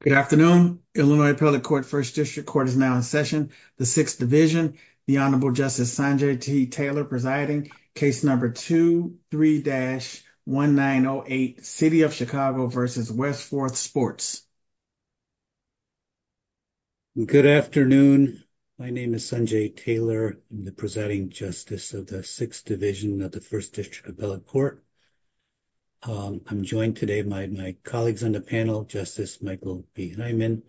Good afternoon, Illinois Appellate Court, 1st District Court is now in session. The 6th Division, the Honorable Justice Sanjay T. Taylor presiding, case number 23-1908, City of Chicago v. Westforth Sports. Good afternoon. My name is Sanjay Taylor, I'm the presiding justice of the 6th Division of the 1st District Appellate Court. I'm joined today by my colleagues on the panel, Justice Michael B. Hyman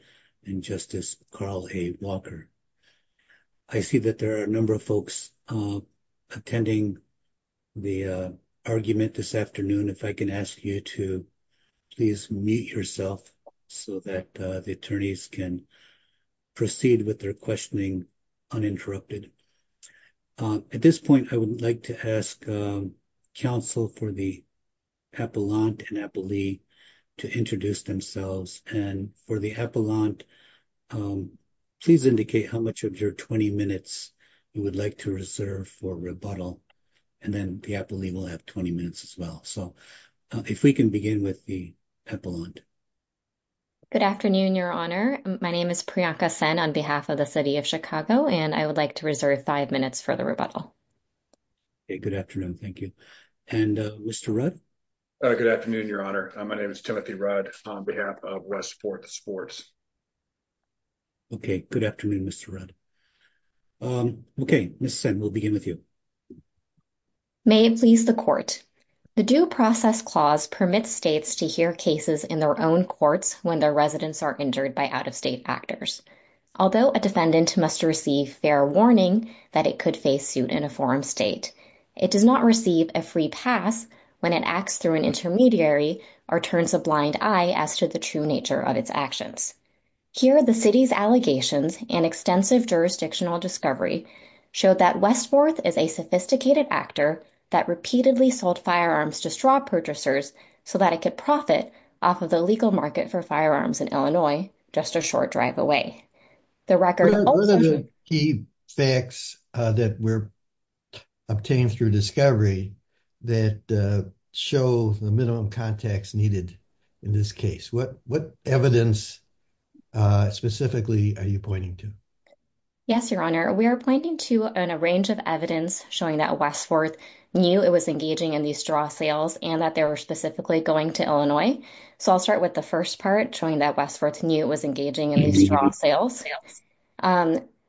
and Justice Carl A. Walker. I see that there are a number of folks attending the argument this afternoon, if I can ask you to please mute yourself so that the attorneys can proceed with their questioning uninterrupted. At this point, I would like to ask counsel for the appellant and appellee to introduce themselves and for the appellant, please indicate how much of your 20 minutes you would like to reserve for rebuttal and then the appellee will have 20 minutes as well. So, if we can begin with the appellant. Good afternoon, Your Honor. My name is Priyanka Sen on behalf of the City of Chicago, and I would like to reserve 5 minutes for the rebuttal. Good afternoon. Thank you. And Mr. Rudd? Good afternoon, Your Honor. My name is Timothy Rudd on behalf of Westforth Sports. Okay, good afternoon, Mr. Rudd. Okay, Ms. Sen, we'll begin with you. May it please the Court. The Due Process Clause permits states to hear cases in their own courts when their residents are injured by out-of-state actors. Although a defendant must receive fair warning that it could face suit in a forum state, it does not receive a free pass when it acts through an intermediary or turns a blind eye as to the true nature of its actions. Here, the City's allegations and extensive jurisdictional discovery showed that Westforth is a sophisticated actor that repeatedly sold firearms to straw purchasers so that it could profit off of the legal market for firearms in Illinois just a short drive away. What are the key facts that were obtained through discovery that show the minimum context needed in this case? What evidence specifically are you pointing to? Yes, Your Honor, we are pointing to a range of evidence showing that Westforth knew it was engaging in these straw sales and that they were specifically going to Illinois. So I'll start with the first part, showing that Westforth knew it was engaging in these straw sales.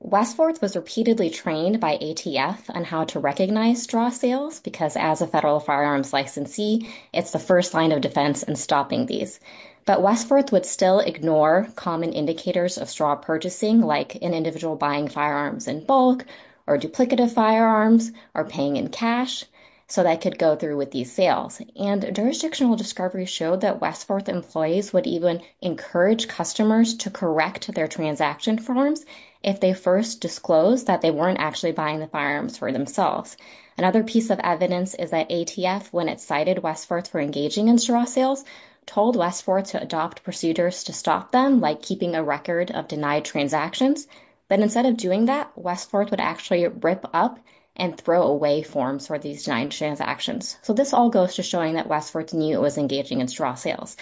Westforth was repeatedly trained by ATF on how to recognize straw sales, because as a federal firearms licensee, it's the first line of defense in stopping these. But Westforth would still ignore common indicators of straw purchasing, like an individual buying firearms in bulk or duplicative firearms or paying in cash, so that could go through with these sales. And jurisdictional discovery showed that Westforth employees would even encourage customers to correct their transaction forms if they first disclosed that they weren't actually buying the firearms for themselves. Another piece of evidence is that ATF, when it cited Westforth for engaging in straw sales, told Westforth to adopt procedures to stop them, like keeping a record of denied transactions. But instead of doing that, Westforth would actually rip up and throw away forms for these nine transactions. So this all goes to showing that Westforth knew it was engaging in straw sales.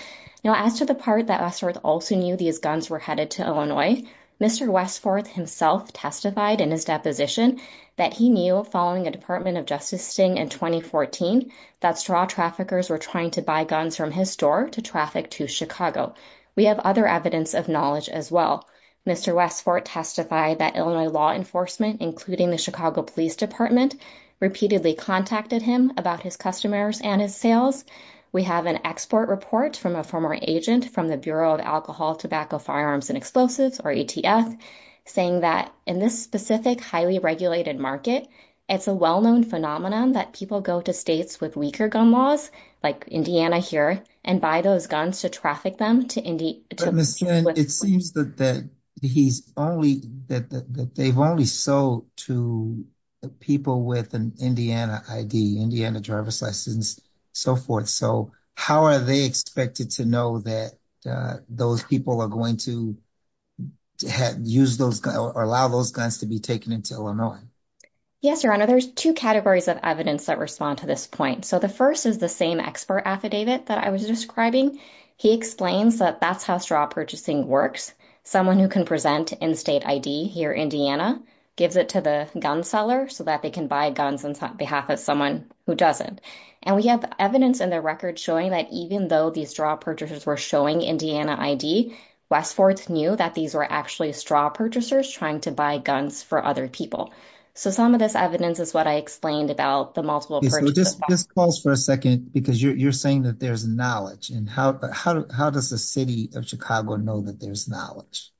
Now, as to the part that Westforth also knew these guns were headed to Illinois, Mr. Westforth himself testified in his deposition that he knew, following a Department of Justice sting in 2014, that straw traffickers were trying to buy guns from his store to traffic to Chicago. We have other evidence of knowledge as well. Mr. Westforth testified that Illinois law enforcement, including the Chicago Police Department, repeatedly contacted him about his customers and his sales. We have an export report from a former agent from the Bureau of Alcohol, Tobacco, Firearms, and Explosives, or ATF, saying that in this specific highly regulated market, it's a well-known phenomenon that people go to states with weaker gun laws, like Indiana here, and buy those guns to traffic them to Indiana. It seems that they've only sold to people with an Indiana ID, Indiana driver's license, and so forth. So how are they expected to know that those people are going to allow those guns to be taken into Illinois? Yes, Your Honor, there's two categories of evidence that respond to this point. So the first is the same export affidavit that I was describing. He explains that that's how straw purchasing works. Someone who can present in-state ID here, Indiana, gives it to the gun seller so that they can buy guns on behalf of someone who doesn't. And we have evidence in the record showing that even though these straw purchasers were showing Indiana ID, Westforth knew that these were actually straw purchasers trying to buy guns for other people. So some of this evidence is what I explained about the multiple purchases. Just pause for a second, because you're saying that there's knowledge. And how does the city of Chicago know that there's knowledge?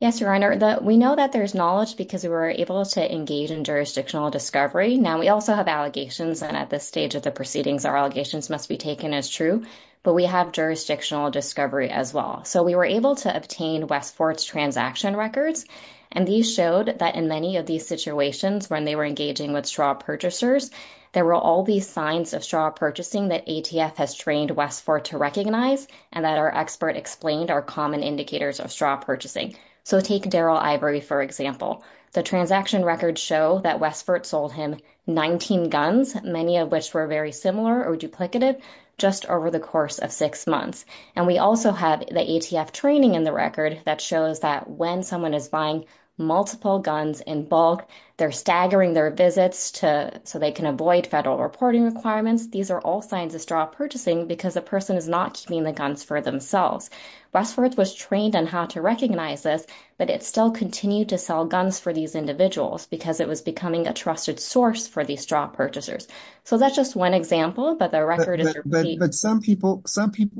Yes, Your Honor, we know that there's knowledge because we were able to engage in jurisdictional discovery. Now, we also have allegations, and at this stage of the proceedings, our allegations must be taken as true. But we have jurisdictional discovery as well. So we were able to obtain Westforth's transaction records. And these showed that in many of these situations when they were engaging with straw purchasers, there were all these signs of straw purchasing that ATF has trained Westforth to recognize and that our expert explained are common indicators of straw purchasing. So take Daryl Ivory, for example. The transaction records show that Westforth sold him 19 guns, many of which were very similar or duplicative, just over the course of six months. And we also have the ATF training in the record that shows that when someone is buying multiple guns in bulk, they're staggering their visits so they can avoid federal reporting requirements. These are all signs of straw purchasing because the person is not keeping the guns for themselves. Westforth was trained on how to recognize this, but it still continued to sell guns for these individuals because it was becoming a trusted source for these straw purchasers. So that's just one example, but the record is repeating. But some people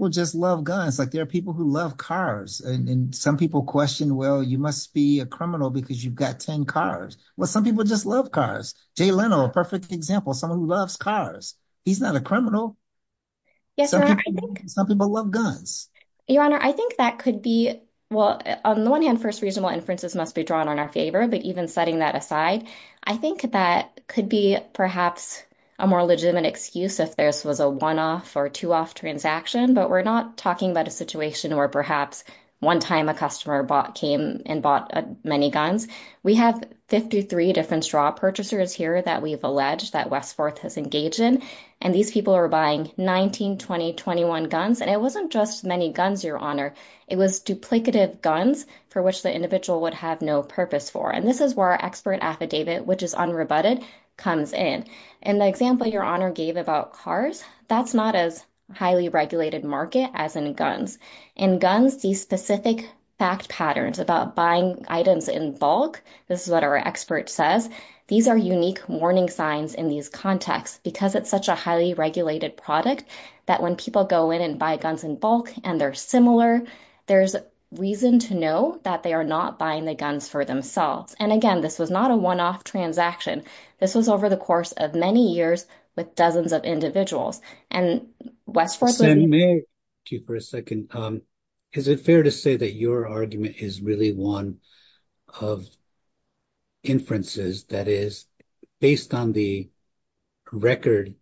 just love guns. Like, there are people who love cars. And some people question, well, you must be a criminal because you've got 10 cars. Well, some people just love cars. Jay Leno, a perfect example, someone who loves cars. He's not a criminal. Some people love guns. Your Honor, I think that could be, well, on the one hand, first, reasonable inferences must be drawn on our favor. But even setting that aside, I think that could be perhaps a more legitimate excuse if this was a one-off or two-off transaction. But we're not talking about a situation where perhaps one time a customer came and bought many guns. We have 53 different straw purchasers here that we've alleged that Westforth has engaged in. And these people are buying 19, 20, 21 guns. And it wasn't just many guns, Your Honor. It was duplicative guns for which the individual would have no purpose for. And this is where our expert affidavit, which is unrebutted, comes in. In the example Your Honor gave about cars, that's not as highly regulated market as in guns. In guns, these specific fact patterns about buying items in bulk, this is what our expert says, these are unique warning signs in these contexts. Because it's such a highly regulated product that when people go in and buy guns in bulk and they're similar, there's reason to know that they are not buying the guns for themselves. And, again, this was not a one-off transaction. This was over the course of many years with dozens of individuals. And Westforth. Senator, may I ask you for a second? Is it fair to say that your argument is really one of inferences? That is, based on the record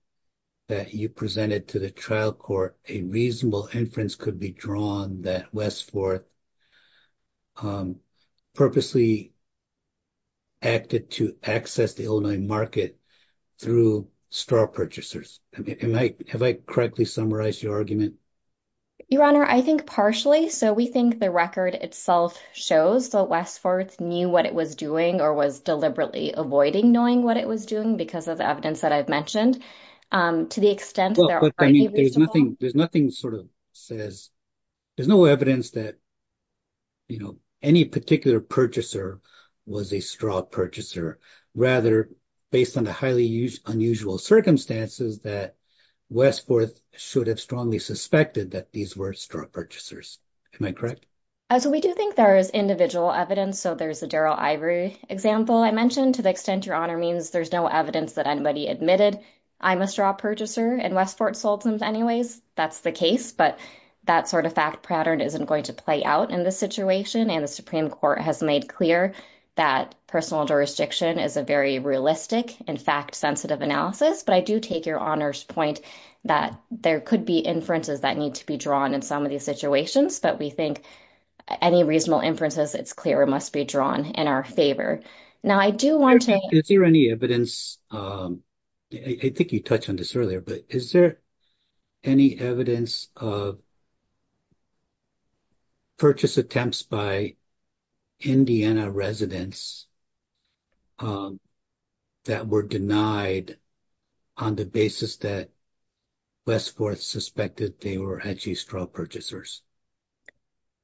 that you presented to the trial court, a reasonable inference could be drawn that Westforth purposely acted to access the Illinois market through store purchasers. Have I correctly summarized your argument? Your Honor, I think partially. So we think the record itself shows that Westforth knew what it was doing or was deliberately avoiding knowing what it was doing because of the evidence that I've mentioned. There's no evidence that any particular purchaser was a straw purchaser. Rather, based on the highly unusual circumstances that Westforth should have strongly suspected that these were straw purchasers. Am I correct? So we do think there is individual evidence. So there's a Daryl Ivory example I mentioned. To the extent your Honor means there's no evidence that anybody admitted I'm a straw purchaser and Westforth sold them anyways, that's the case. But that sort of fact pattern isn't going to play out in this situation. And the Supreme Court has made clear that personal jurisdiction is a very realistic, in fact, sensitive analysis. But I do take your Honor's point that there could be inferences that need to be drawn in some of these situations. But we think any reasonable inferences, it's clear, must be drawn in our favor. Now, I do want to. Is there any evidence? I think you touched on this earlier, but is there any evidence of purchase attempts by Indiana residents that were denied on the basis that Westforth suspected they were actually straw purchasers?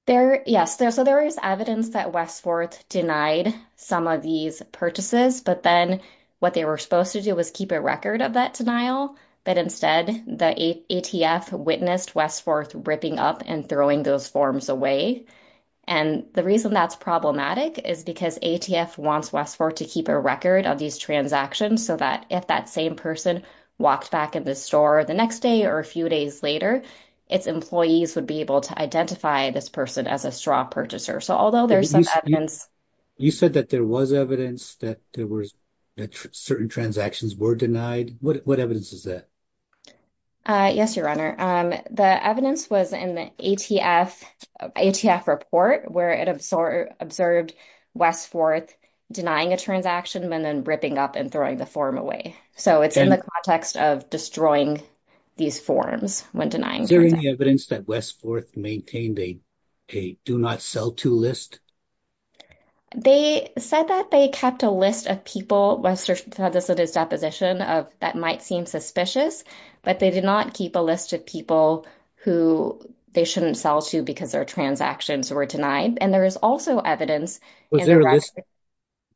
Yes. So there is evidence that Westforth denied some of these purchases, but then what they were supposed to do was keep a record of that denial. But instead, the ATF witnessed Westforth ripping up and throwing those forms away. And the reason that's problematic is because ATF wants Westforth to keep a record of these transactions so that if that same person walked back in the store the next day or a few days later, its employees would be able to identify this person as a straw purchaser. So, although there's some evidence. You said that there was evidence that there was certain transactions were denied. What evidence is that? Yes, Your Honor. The evidence was in the ATF report where it observed Westforth denying a transaction and then ripping up and throwing the form away. So it's in the context of destroying these forms when denying transactions. Is there any evidence that Westforth maintained a do not sell to list? They said that they kept a list of people. This is a deposition of that might seem suspicious, but they did not keep a list of people who they shouldn't sell to because their transactions were denied. And there is also evidence. Was there a list?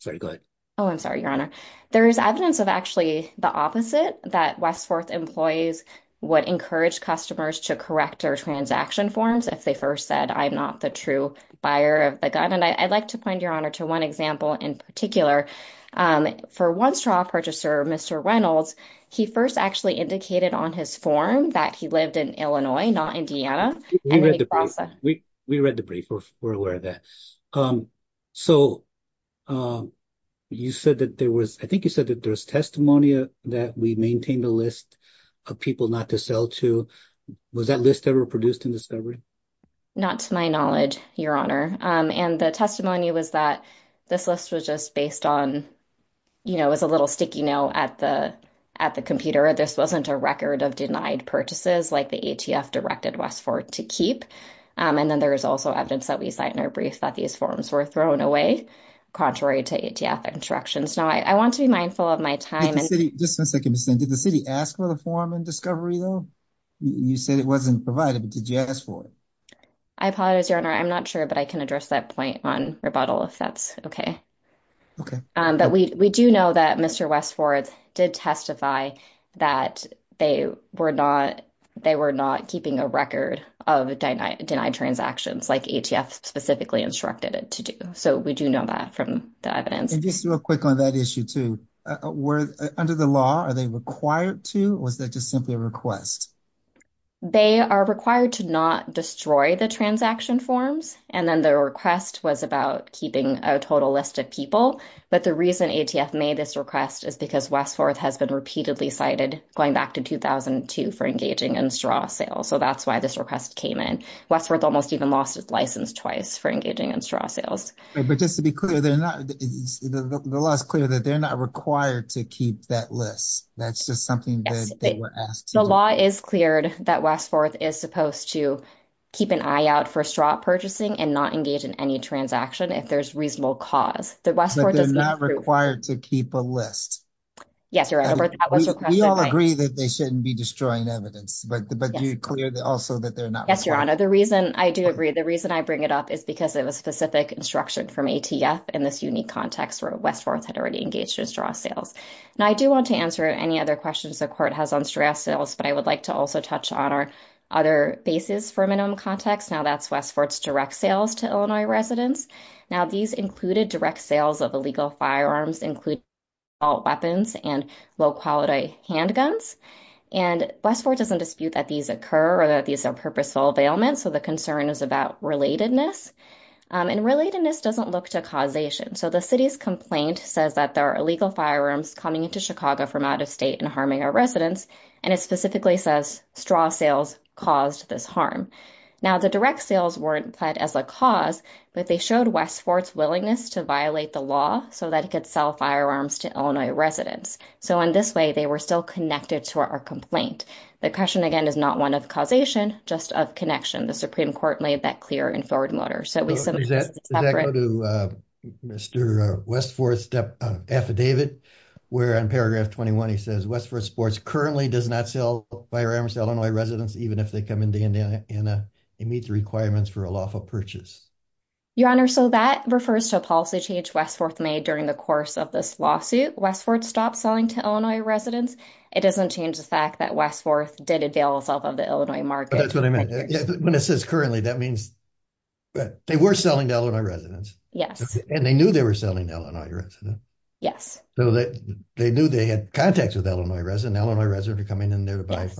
Sorry, go ahead. Oh, I'm sorry, Your Honor. There is evidence of actually the opposite, that Westforth employees would encourage customers to correct their transaction forms if they first said, I'm not the true buyer of the gun. And I'd like to point, Your Honor, to one example in particular. For one straw purchaser, Mr. Reynolds, he first actually indicated on his form that he lived in Illinois, not Indiana. We read the brief. We're aware of that. So you said that there was I think you said that there's testimony that we maintain the list of people not to sell to. Was that list ever produced in discovery? Not to my knowledge, Your Honor. And the testimony was that this list was just based on, you know, as a little sticky note at the at the computer. This wasn't a record of denied purchases like the ATF directed Westforth to keep. And then there is also evidence that we cite in our brief that these forms were thrown away, contrary to ATF instructions. Now, I want to be mindful of my time. Just a second. Did the city ask for the form in discovery, though? You said it wasn't provided, but did you ask for it? I apologize, Your Honor. I'm not sure, but I can address that point on rebuttal if that's OK. But we do know that Mr. Westforth did testify that they were not they were not keeping a record of denied transactions like ATF specifically instructed it to do. So we do know that from the evidence. Just real quick on that issue, too. Under the law, are they required to? Was that just simply a request? They are required to not destroy the transaction forms. And then the request was about keeping a total list of people. But the reason ATF made this request is because Westforth has been repeatedly cited going back to 2002 for engaging in straw sales. So that's why this request came in. Westforth almost even lost its license twice for engaging in straw sales. But just to be clear, they're not the last clear that they're not required to keep that list. That's just something that they were asked to do. The law is cleared that Westforth is supposed to keep an eye out for straw purchasing and not engage in any transaction if there's reasonable cause. But they're not required to keep a list. Yes, Your Honor. We all agree that they shouldn't be destroying evidence. But you're clear also that they're not. Yes, Your Honor. I do agree. The reason I bring it up is because it was specific instruction from ATF in this unique context where Westforth had already engaged in straw sales. Now, I do want to answer any other questions the court has on straw sales. But I would like to also touch on our other bases for minimum context. Now, that's Westforth's direct sales to Illinois residents. Now, these included direct sales of illegal firearms, including assault weapons and low-quality handguns. And Westforth doesn't dispute that these occur or that these are purposeful availments. So the concern is about relatedness. And relatedness doesn't look to causation. So the city's complaint says that there are illegal firearms coming into Chicago from out of state and harming our residents. And it specifically says straw sales caused this harm. Now, the direct sales weren't implied as a cause, but they showed Westforth's willingness to violate the law so that it could sell firearms to Illinois residents. So in this way, they were still connected to our complaint. The question, again, is not one of causation, just of connection. The Supreme Court made that clear in forwarding order. Let's go to Mr. Westforth's affidavit, where in paragraph 21 he says, Westforth Sports currently does not sell firearms to Illinois residents, even if they come into Indiana and meet the requirements for a lawful purchase. Your Honor, so that refers to a policy change Westforth made during the course of this lawsuit. Westforth stopped selling to Illinois residents. It doesn't change the fact that Westforth did avail itself of the Illinois market. When it says currently, that means they were selling to Illinois residents. And they knew they were selling to Illinois residents. Yes. They knew they had contacts with Illinois residents. Illinois residents are coming in there to buy.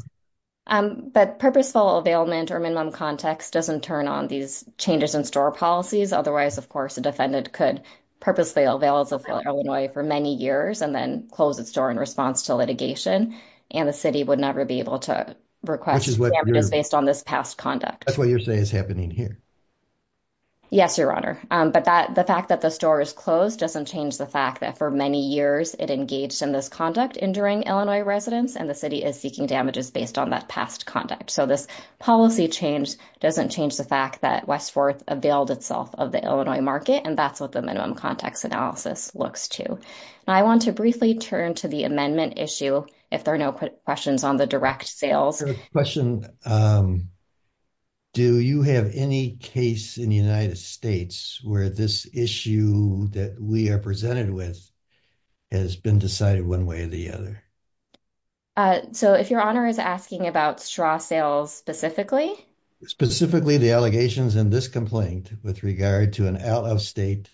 But purposeful availment or minimum context doesn't turn on these changes in store policies. Otherwise, of course, a defendant could purposefully avail Illinois for many years and then close its door in response to litigation. And the city would never be able to request damages based on this past conduct. That's what you're saying is happening here. Yes, Your Honor. But the fact that the store is closed doesn't change the fact that for many years it engaged in this conduct, injuring Illinois residents. And the city is seeking damages based on that past conduct. So this policy change doesn't change the fact that Westforth availed itself of the Illinois market. And that's what the minimum context analysis looks to. I want to briefly turn to the amendment issue. If there are no questions on the direct sales question. Do you have any case in the United States where this issue that we are presented with has been decided one way or the other? So if Your Honor is asking about straw sales specifically. Specifically the allegations in this complaint with regard to an out-of-state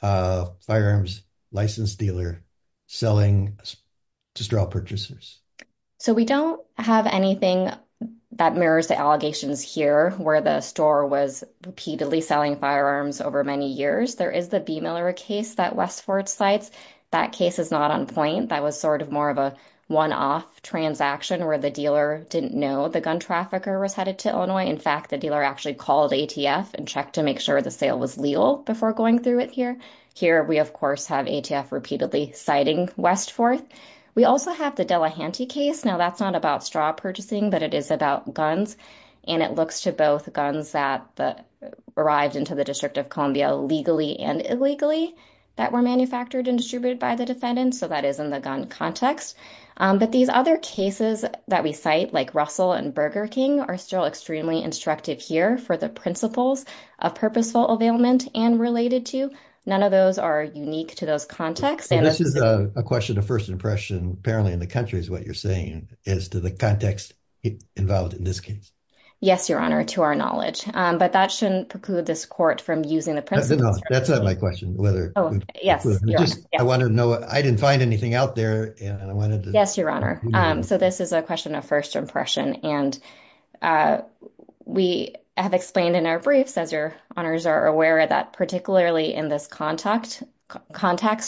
firearms license dealer selling to straw purchasers. So we don't have anything that mirrors the allegations here where the store was repeatedly selling firearms over many years. There is the B. Miller case that Westforth cites. That case is not on point. That was sort of more of a one-off transaction where the dealer didn't know the gun trafficker was headed to Illinois. In fact, the dealer actually called ATF and checked to make sure the sale was legal before going through it here. Here we, of course, have ATF repeatedly citing Westforth. We also have the Delahanty case. Now that's not about straw purchasing, but it is about guns. And it looks to both guns that arrived into the District of Columbia legally and illegally that were manufactured and distributed by the defendant. So that is in the gun context. But these other cases that we cite, like Russell and Burger King, are still extremely instructive here for the principles of purposeful availment and related to. None of those are unique to those contexts. This is a question of first impression. Apparently in the country is what you're saying as to the context involved in this case. Yes, Your Honor, to our knowledge. But that shouldn't preclude this court from using the principles. That's not my question. I want to know. I didn't find anything out there. Yes, Your Honor. So this is a question of first impression. And we have explained in our briefs, as Your Honors are aware of that, particularly in this context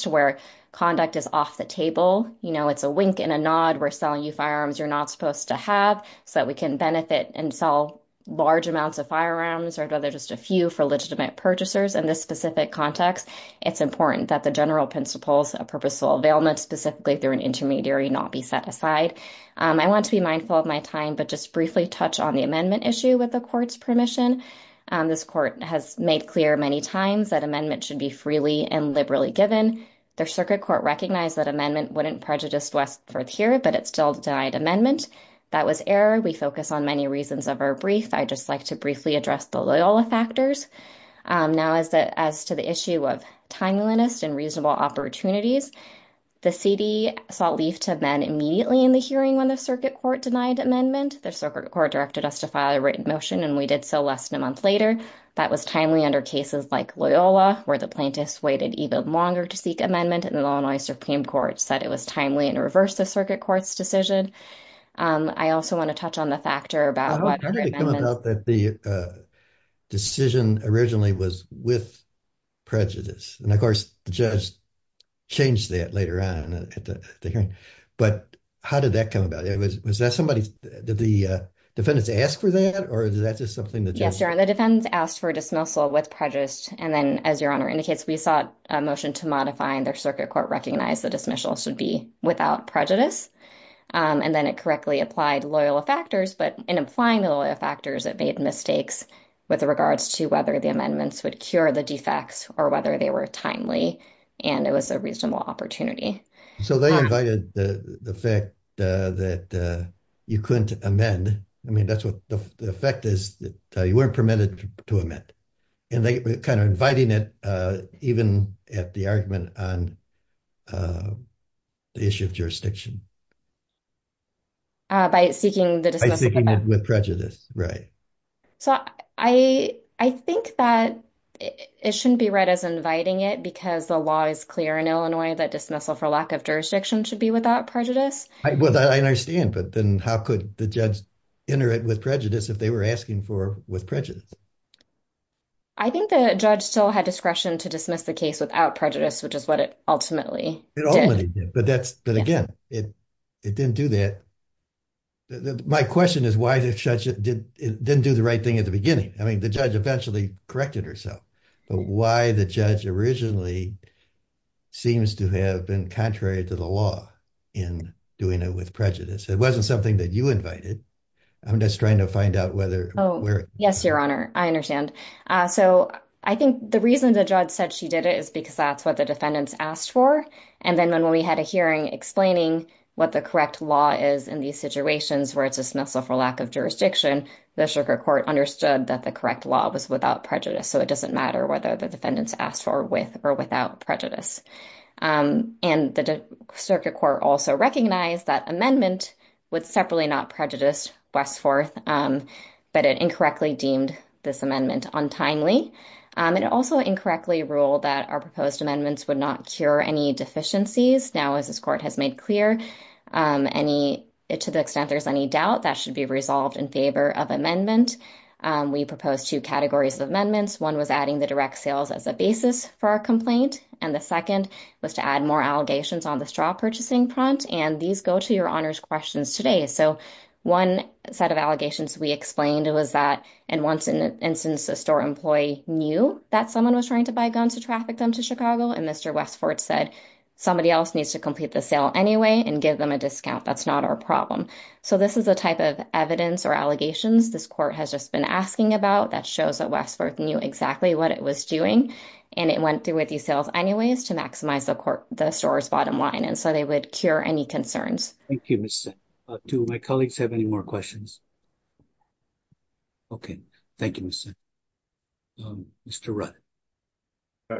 where conduct is off the table. You know, it's a wink and a nod. We're selling you firearms you're not supposed to have so that we can benefit and sell large amounts of firearms or whether just a few for legitimate purchasers. In this specific context, it's important that the general principles of purposeful availment, specifically through an intermediary, not be set aside. I want to be mindful of my time, but just briefly touch on the amendment issue with the court's permission. This court has made clear many times that amendment should be freely and liberally given. Their circuit court recognized that amendment wouldn't prejudice Westworth here, but it still denied amendment. That was error. We focus on many reasons of our brief. I just like to briefly address the Loyola factors. Now, as to the issue of timeliness and reasonable opportunities, the city sought leave to amend immediately in the hearing when the circuit court denied amendment. The circuit court directed us to file a written motion, and we did so less than a month later. That was timely under cases like Loyola, where the plaintiffs waited even longer to seek amendment, and the Illinois Supreme Court said it was timely and reversed the circuit court's decision. I also want to touch on the factor about what the decision originally was with prejudice. And, of course, the judge changed that later on, but how did that come about? It was that somebody that the defendants asked for that, or is that just something that the defendants asked for a dismissal with prejudice? And then, as your honor indicates, we sought a motion to modify their circuit court, recognize the dismissal should be without prejudice. And then it correctly applied Loyola factors, but in applying the Loyola factors, it made mistakes with regards to whether the amendments would cure the defects or whether they were timely, and it was a reasonable opportunity. So they invited the fact that you couldn't amend. I mean, that's what the effect is that you weren't permitted to amend, and they were kind of inviting it, even at the argument on the issue of jurisdiction. By seeking the dismissal with prejudice. Right. So I think that it shouldn't be read as inviting it because the law is clear in Illinois that dismissal for lack of jurisdiction should be without prejudice. Well, I understand, but then how could the judge enter it with prejudice if they were asking for with prejudice? I think the judge still had discretion to dismiss the case without prejudice, which is what it ultimately did. But again, it didn't do that. My question is why the judge didn't do the right thing at the beginning. I mean, the judge eventually corrected herself, but why the judge originally seems to have been contrary to the law in doing it with prejudice. It wasn't something that you invited. I'm just trying to find out whether. Oh, yes, your honor. I understand. So I think the reason the judge said she did it is because that's what the defendants asked for. And then when we had a hearing explaining what the correct law is in these situations where it's dismissal for lack of jurisdiction, the circuit court understood that the correct law was without prejudice. So it doesn't matter whether the defendants asked for with or without prejudice. And the circuit court also recognized that amendment would separately not prejudice West Forth, but it incorrectly deemed this amendment untimely. It also incorrectly ruled that our proposed amendments would not cure any deficiencies. Now, as this court has made clear any to the extent there's any doubt that should be resolved in favor of amendment. We propose two categories of amendments. One was adding the direct sales as a basis for our complaint. And the second was to add more allegations on the straw purchasing front. And these go to your honors questions today. So one set of allegations we explained was that and once in an instance, a store employee knew that someone was trying to buy guns to traffic them to Chicago. And Mr. Westford said somebody else needs to complete the sale anyway and give them a discount. That's not our problem. So this is a type of evidence or allegations. This court has just been asking about that shows that West Forth knew exactly what it was doing. And it went through with these sales anyways, to maximize the court, the store's bottom line. And so they would cure any concerns. Thank you, Miss. Do my colleagues have any more questions? Okay, thank you. Mr.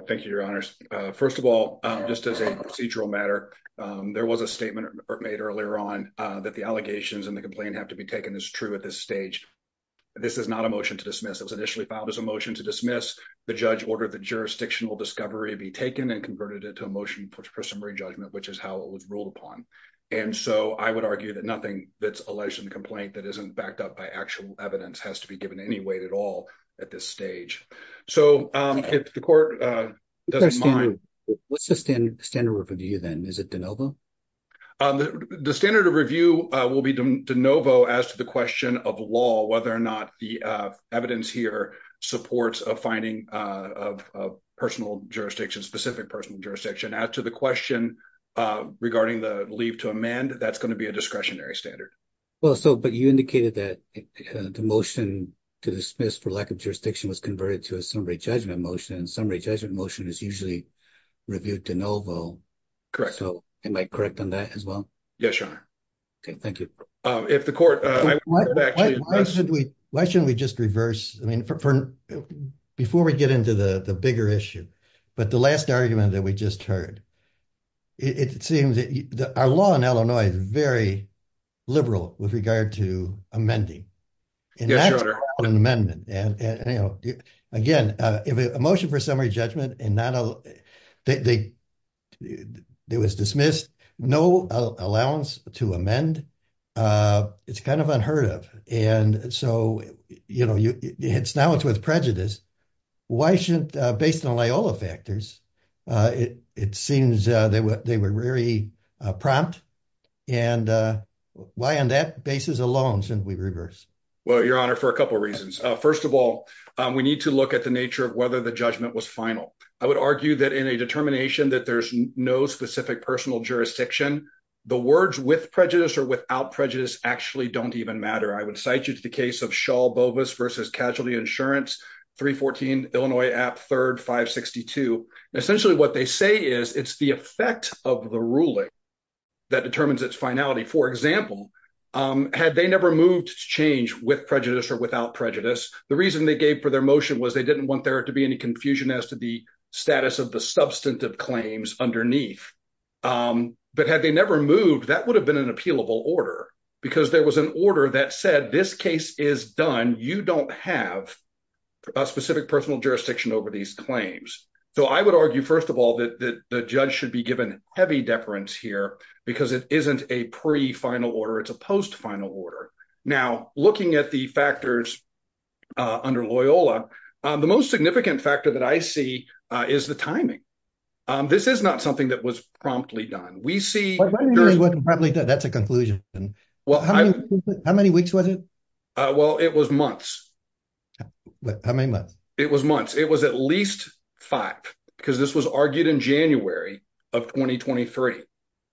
Thank you, your honors. First of all, just as a procedural matter, there was a statement made earlier on that the allegations and the complaint have to be taken as true at this stage. This is not a motion to dismiss. It was initially filed as a motion to dismiss the judge ordered the jurisdictional discovery be taken and converted it to a motion for summary judgment, which is how it was ruled upon. And so I would argue that nothing that's alleged in the complaint that isn't backed up by actual evidence has to be given any weight at all at this stage. So, if the court doesn't mind, what's the standard of review then? Is it de novo? The standard of review will be de novo as to the question of law, whether or not the evidence here supports a finding of personal jurisdiction, specific personal jurisdiction. As to the question regarding the leave to amend, that's going to be a discretionary standard. Well, so, but you indicated that the motion to dismiss for lack of jurisdiction was converted to a summary judgment motion and summary judgment motion is usually reviewed de novo. Correct. Am I correct on that as well? Yes, your honor. Okay, thank you. If the court. Why shouldn't we just reverse I mean, before we get into the bigger issue, but the last argument that we just heard. It seems that our law in Illinois is very liberal with regard to amending. Yes, your honor. And that's called an amendment. And again, if a motion for summary judgment and not a, it was dismissed, no allowance to amend, it's kind of unheard of. And so, you know, it's now it's with prejudice. Why shouldn't based on all the factors. It, it seems they were, they were very prompt. And why on that basis alone since we reverse. Well, your honor for a couple reasons. First of all, we need to look at the nature of whether the judgment was final, I would argue that in a determination that there's no specific personal jurisdiction. The words with prejudice or without prejudice actually don't even matter. I would cite you to the case of shawl bobas versus casualty insurance 314 Illinois app 3562 essentially what they say is it's the effect of the ruling that determines its finality. For example, had they never moved to change with prejudice or without prejudice. The reason they gave for their motion was they didn't want there to be any confusion as to the status of the substantive claims underneath. But had they never moved that would have been an appealable order, because there was an order that said this case is done, you don't have a specific personal jurisdiction over these claims. So I would argue, first of all, that the judge should be given heavy deference here, because it isn't a pre final order it's a post final order. Now, looking at the factors under Loyola. The most significant factor that I see is the timing. This is not something that was promptly done we see probably that that's a conclusion. Well, how many weeks was it. Well, it was months. I mean, it was months, it was at least five, because this was argued in January of 2023.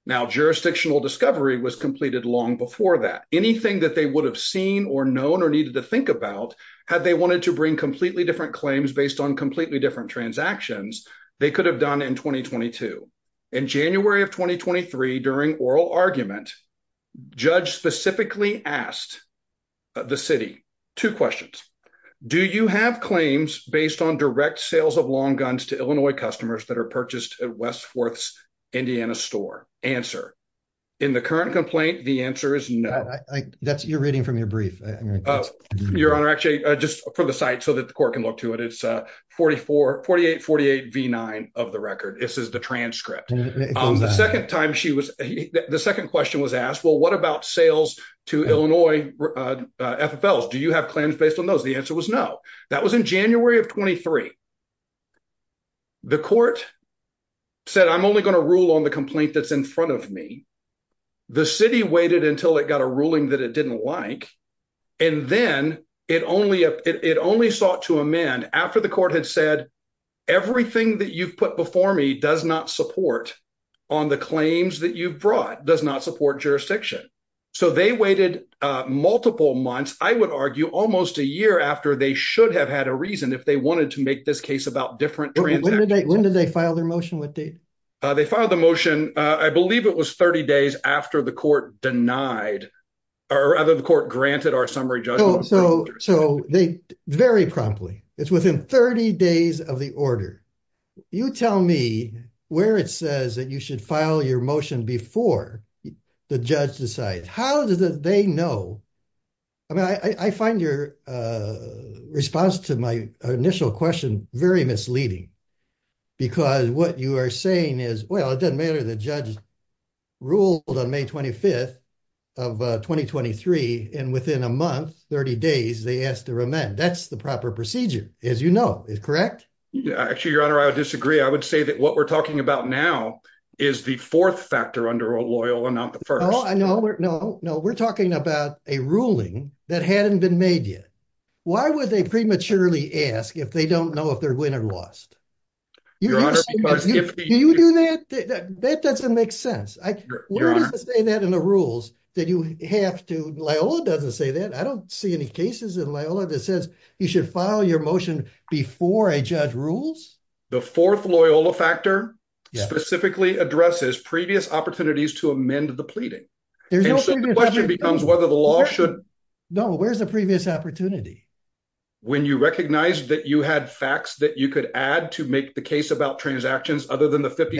Now jurisdictional discovery was completed long before that anything that they would have seen or known or needed to think about had they wanted to bring completely different claims based on completely different transactions, they could have done in 2022. In January of 2023 during oral argument. Judge specifically asked the city to questions. Do you have claims based on direct sales of long guns to Illinois customers that are purchased at Westworth's Indiana store answer in the current complaint, the answer is no. That's your reading from your brief. Your honor actually just for the site so that the court can look to it it's 4448 48 v nine of the record, this is the transcript. The second time she was the second question was asked well what about sales to Illinois, FFL do you have claims based on those the answer was no. That was in January of 23. The court said I'm only going to rule on the complaint that's in front of me. The city waited until it got a ruling that it didn't like. And then it only it only sought to amend after the court had said, everything that you've put before me does not support on the claims that you've brought does not support jurisdiction. So they waited multiple months, I would argue, almost a year after they should have had a reason if they wanted to make this case about different. When did they file their motion with date. They filed the motion, I believe it was 30 days after the court denied, or rather the court granted our summary. So, so they very promptly. It's within 30 days of the order. You tell me where it says that you should file your motion before the judge decides how did they know. I mean, I find your response to my initial question, very misleading. Because what you are saying is, well, it doesn't matter the judge ruled on May 25 of 2023, and within a month, 30 days they asked to amend that's the proper procedure, as you know, is correct. Actually, your honor I disagree, I would say that what we're talking about now is the fourth factor under a loyal and not the first. No, no, no, we're talking about a ruling that hadn't been made yet. Why would they prematurely ask if they don't know if they're winning or lost. If you do that, that doesn't make sense. I say that in the rules that you have to lay all doesn't say that I don't see any cases in my own that says you should follow your motion before a judge rules. The fourth Loyola factor specifically addresses previous opportunities to amend the pleading. There's no question becomes whether the law should know where's the previous opportunity. When you recognize that you had facts that you could add to make the case about transactions, other than the 50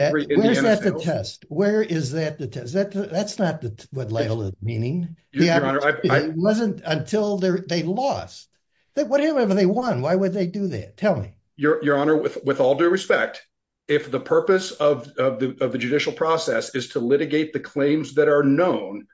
test, where is that the test that that's not what level of meaning. Yeah, I wasn't until they lost that whatever they want, why would they do that, tell me, your, your honor with with all due respect, if the purpose of the judicial process is to litigate the claims that are known,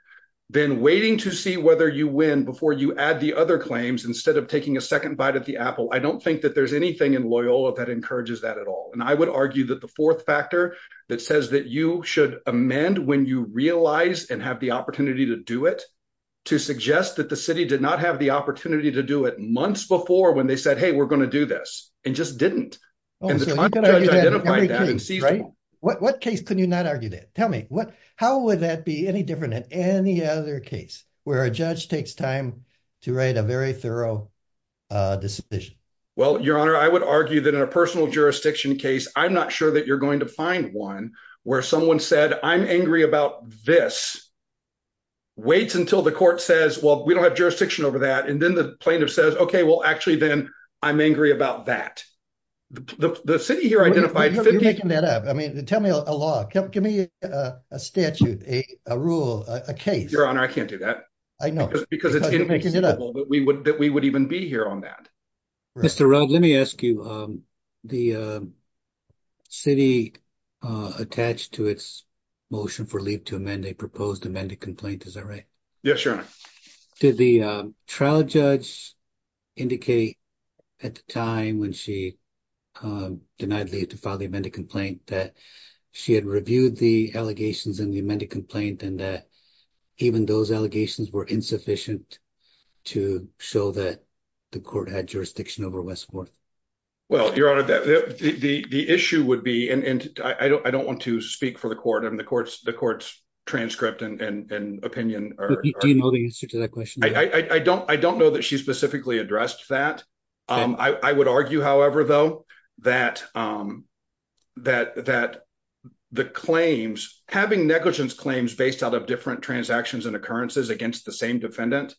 then waiting to see whether you win before you add the other claims instead of taking a second bite at the apple I don't think that there's anything in Loyola that encourages that at all and I would argue that the fourth factor that says that you should amend when you realize and have the opportunity to do it to suggest that the city did not have the opportunity to do it months before when they said hey we're going to do this, and just didn't. Right, what case, can you not argue that tell me what, how would that be any different than any other case where a judge takes time to write a very thorough decision. Well, your honor I would argue that in a personal jurisdiction case, I'm not sure that you're going to find one where someone said I'm angry about this. Wait until the court says well we don't have jurisdiction over that and then the plaintiff says okay well actually then I'm angry about that. The city here identified making that up. I mean, tell me a lot. Give me a statute, a rule, a case, your honor I can't do that. I know, because it makes it up but we would that we would even be here on that. Mr. Rob let me ask you, the city attached to its motion for leave to amend a proposed amended complaint, is that right? Yes, your honor. Did the trial judge indicate at the time when she denied leave to file the amended complaint that she had reviewed the allegations in the amended complaint and that even those allegations were insufficient to show that the court had jurisdiction over West Forth? Well, your honor, the issue would be, and I don't want to speak for the court and the court's transcript and opinion. Do you know the answer to that question? I don't know that she specifically addressed that. I would argue, however, though, that the claims, having negligence claims based out of different transactions and occurrences against the same defendant,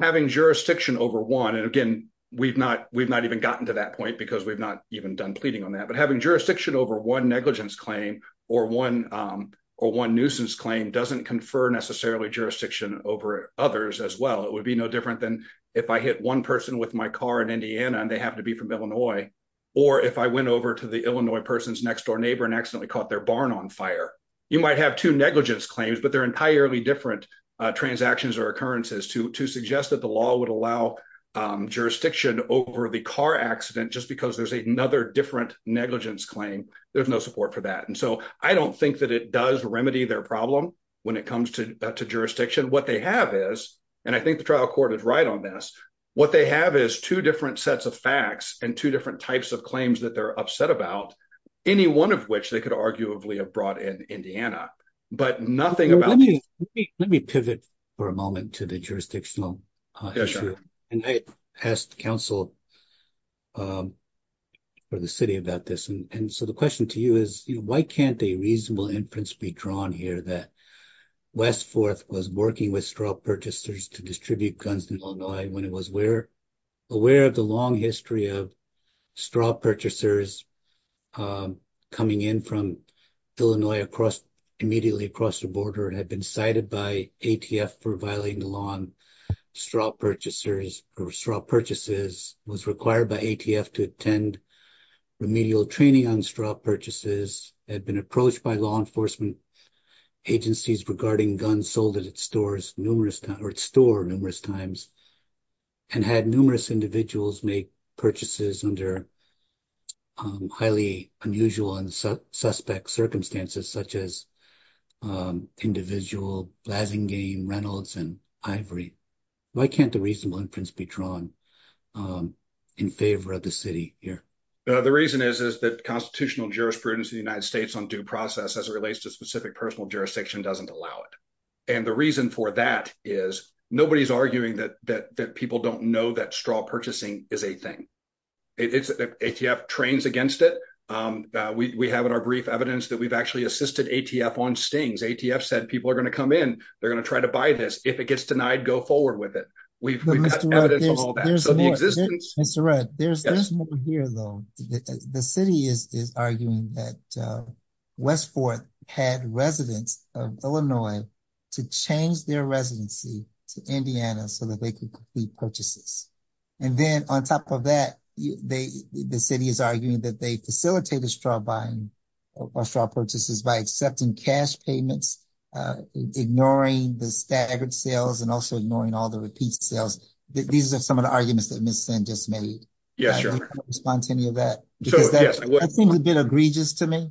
having jurisdiction over one, and again, we've not even gotten to that point because we've not even done pleading on that, but having jurisdiction over one negligence claim or one or one nuisance claim doesn't confer necessarily jurisdiction over others as well. It would be no different than if I hit one person with my car in Indiana and they happen to be from Illinois, or if I went over to the Illinois person's next door neighbor and accidentally caught their barn on fire. You might have two negligence claims, but they're entirely different transactions or occurrences to suggest that the law would allow jurisdiction over the car accident just because there's another different negligence claim. There's no support for that. And so I don't think that it does remedy their problem when it comes to jurisdiction. What they have is, and I think the trial court is right on this, what they have is two different sets of facts and two different types of claims that they're upset about, any one of which they could arguably have brought in Indiana. Let me pivot for a moment to the jurisdictional issue. I asked the council for the city about this, and so the question to you is why can't a reasonable inference be drawn here that West Forth was working with straw purchasers to distribute guns in Illinois when it was aware of the long history of straw purchasers coming in from Illinois immediately across the border and had been cited by ATF for violating the law on straw purchasers or straw purchases, was required by ATF to attend remedial training on straw purchases, had been approached by law enforcement agencies regarding guns sold at its store numerous times and had numerous individuals make purchases under highly unusual and suspect circumstances, such as individual Blasingame, Reynolds, and Ivory. Why can't a reasonable inference be drawn in favor of the city here? The reason is that constitutional jurisprudence in the United States on due process as it relates to specific personal jurisdiction doesn't allow it. And the reason for that is nobody's arguing that people don't know that straw purchasing is a thing. ATF trains against it. We have in our brief evidence that we've actually assisted ATF on stings. ATF said people are going to come in, they're going to try to buy this. If it gets denied, go forward with it. We've got evidence of all that. Mr. Rudd, there's more here though. The city is arguing that West Forth had residents of Illinois to change their residency to Indiana so that they could complete purchases. And then on top of that, the city is arguing that they facilitated straw buying or straw purchases by accepting cash payments, ignoring the staggered sales, and also ignoring all the repeat sales. These are some of the arguments that Ms. Senn just made. I don't know if you want to respond to any of that. That seems a bit egregious to me.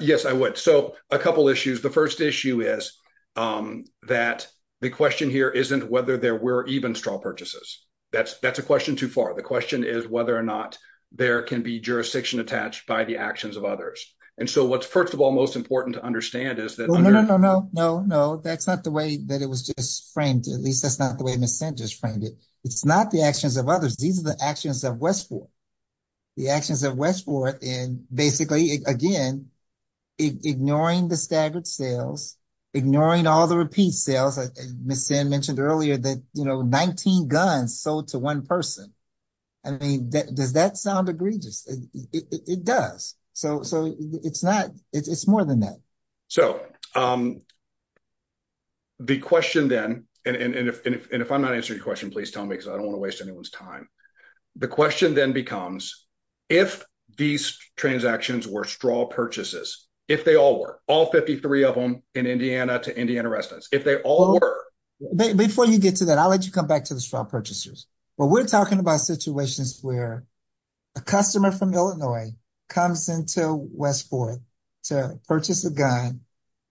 Yes, I would. So a couple issues. The first issue is that the question here isn't whether there were even straw purchases. That's a question too far. The question is whether or not there can be jurisdiction attached by the actions of others. And so what's, first of all, most important to understand is that. No, no, no, no, no, no. That's not the way that it was just framed. At least that's not the way Ms. Senn just framed it. It's not the actions of others. These are the actions of West Forth. The actions of West Forth in basically, again, ignoring the staggered sales, ignoring all the repeat sales. Ms. Senn mentioned earlier that, you know, 19 guns sold to one person. I mean, does that sound egregious? It does. So it's not. It's more than that. So the question then, and if I'm not answering your question, please tell me because I don't want to waste anyone's time. The question then becomes if these transactions were straw purchases, if they all were, all 53 of them in Indiana to Indiana residence, if they all were. Before you get to that, I'll let you come back to the straw purchasers. Well, we're talking about situations where a customer from Illinois comes into West Forth to purchase a gun,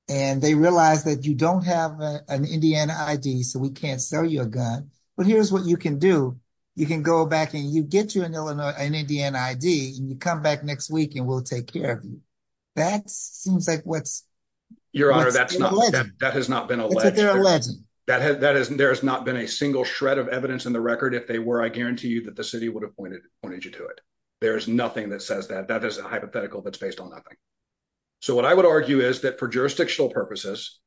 and they realize that you don't have an Indiana ID, so we can't sell you a gun. But here's what you can do. You can go back and you get you an Illinois, an Indiana ID, and you come back next week and we'll take care of you. That seems like what's. Your Honor, that's not, that has not been alleged. There has not been a single shred of evidence in the record. If they were, I guarantee you that the city would have pointed pointed you to it. There is nothing that says that that is a hypothetical that's based on nothing. So what I would argue is that for jurisdictional purposes,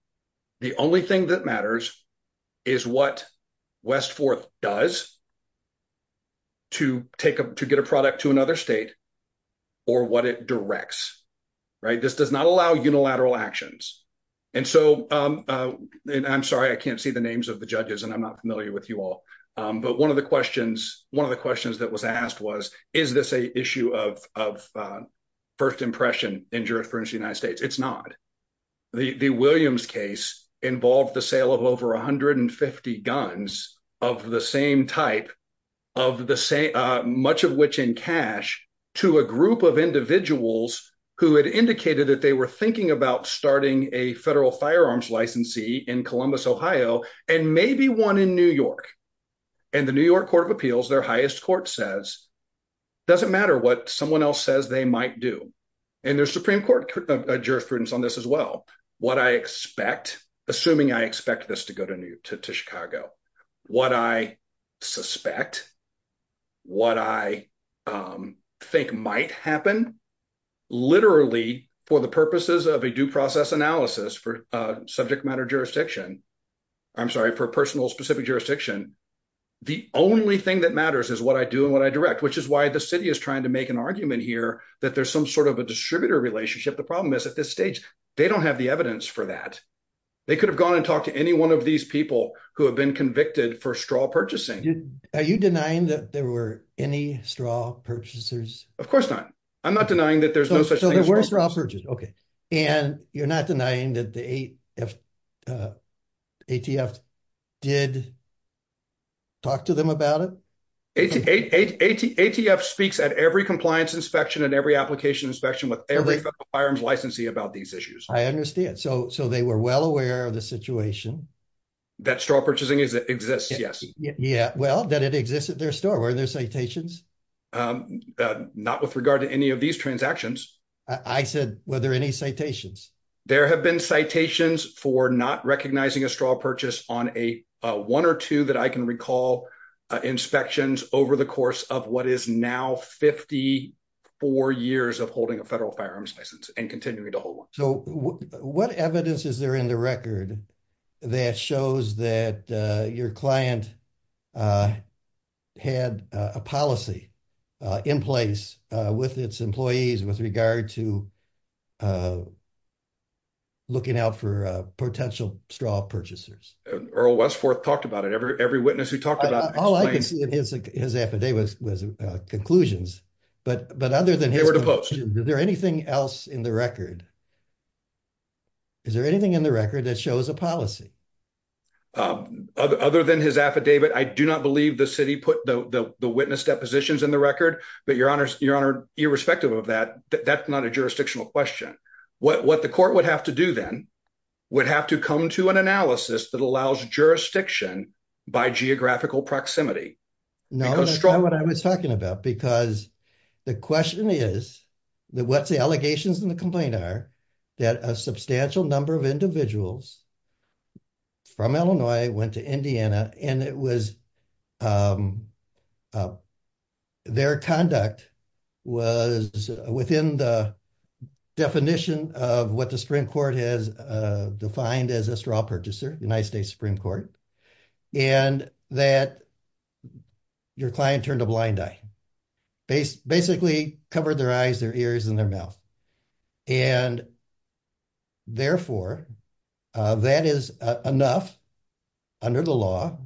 the only thing that matters is what West Forth does to take up to get a product to another state or what it directs. Right. This does not allow unilateral actions. And so I'm sorry, I can't see the names of the judges and I'm not familiar with you all. But one of the questions, one of the questions that was asked was, is this a issue of of first impression in jurisprudence United States? It's not. The Williams case involved the sale of over 150 guns of the same type of the same, much of which in cash to a group of individuals who had indicated that they were thinking about starting a federal firearms licensee in Columbus, Ohio, and maybe one in New York. And the New York Court of Appeals, their highest court says, doesn't matter what someone else says they might do. And there's Supreme Court jurisprudence on this as well. What I expect, assuming I expect this to go to Chicago, what I suspect, what I think might happen, literally, for the purposes of a due process analysis for subject matter jurisdiction. I'm sorry, for personal specific jurisdiction. The only thing that matters is what I do and what I direct, which is why the city is trying to make an argument here that there's some sort of a distributor relationship. The problem is at this stage, they don't have the evidence for that. They could have gone and talked to any one of these people who have been convicted for straw purchasing. Are you denying that there were any straw purchasers? Of course not. I'm not denying that there's no such thing. And you're not denying that the ATF did talk to them about it? ATF speaks at every compliance inspection and every application inspection with every firearms licensee about these issues. I understand. So they were well aware of the situation. That straw purchasing exists, yes. Yeah, well, that it exists at their store. Were there citations? Not with regard to any of these transactions. I said, were there any citations? There have been citations for not recognizing a straw purchase on a one or two that I can recall inspections over the course of what is now 54 years of holding a federal firearms license and continuing to hold one. So what evidence is there in the record that shows that your client had a policy in place with its employees with regard to looking out for potential straw purchasers? Earl Westforth talked about it. Every witness who talked about it. All I could see in his affidavit was conclusions. They were deposed. Is there anything else in the record? Is there anything in the record that shows a policy? Other than his affidavit, I do not believe the city put the witness depositions in the record. But, Your Honor, irrespective of that, that's not a jurisdictional question. What the court would have to do then would have to come to an analysis that allows jurisdiction by geographical proximity. No, that's not what I was talking about. Because the question is that what's the allegations in the complaint are that a substantial number of individuals from Illinois went to Indiana and it was their conduct was within the definition of what the Supreme Court has defined as a straw purchaser, United States Supreme Court. And that your client turned a blind eye, basically covered their eyes, their ears and their mouth. And therefore, that is enough under the law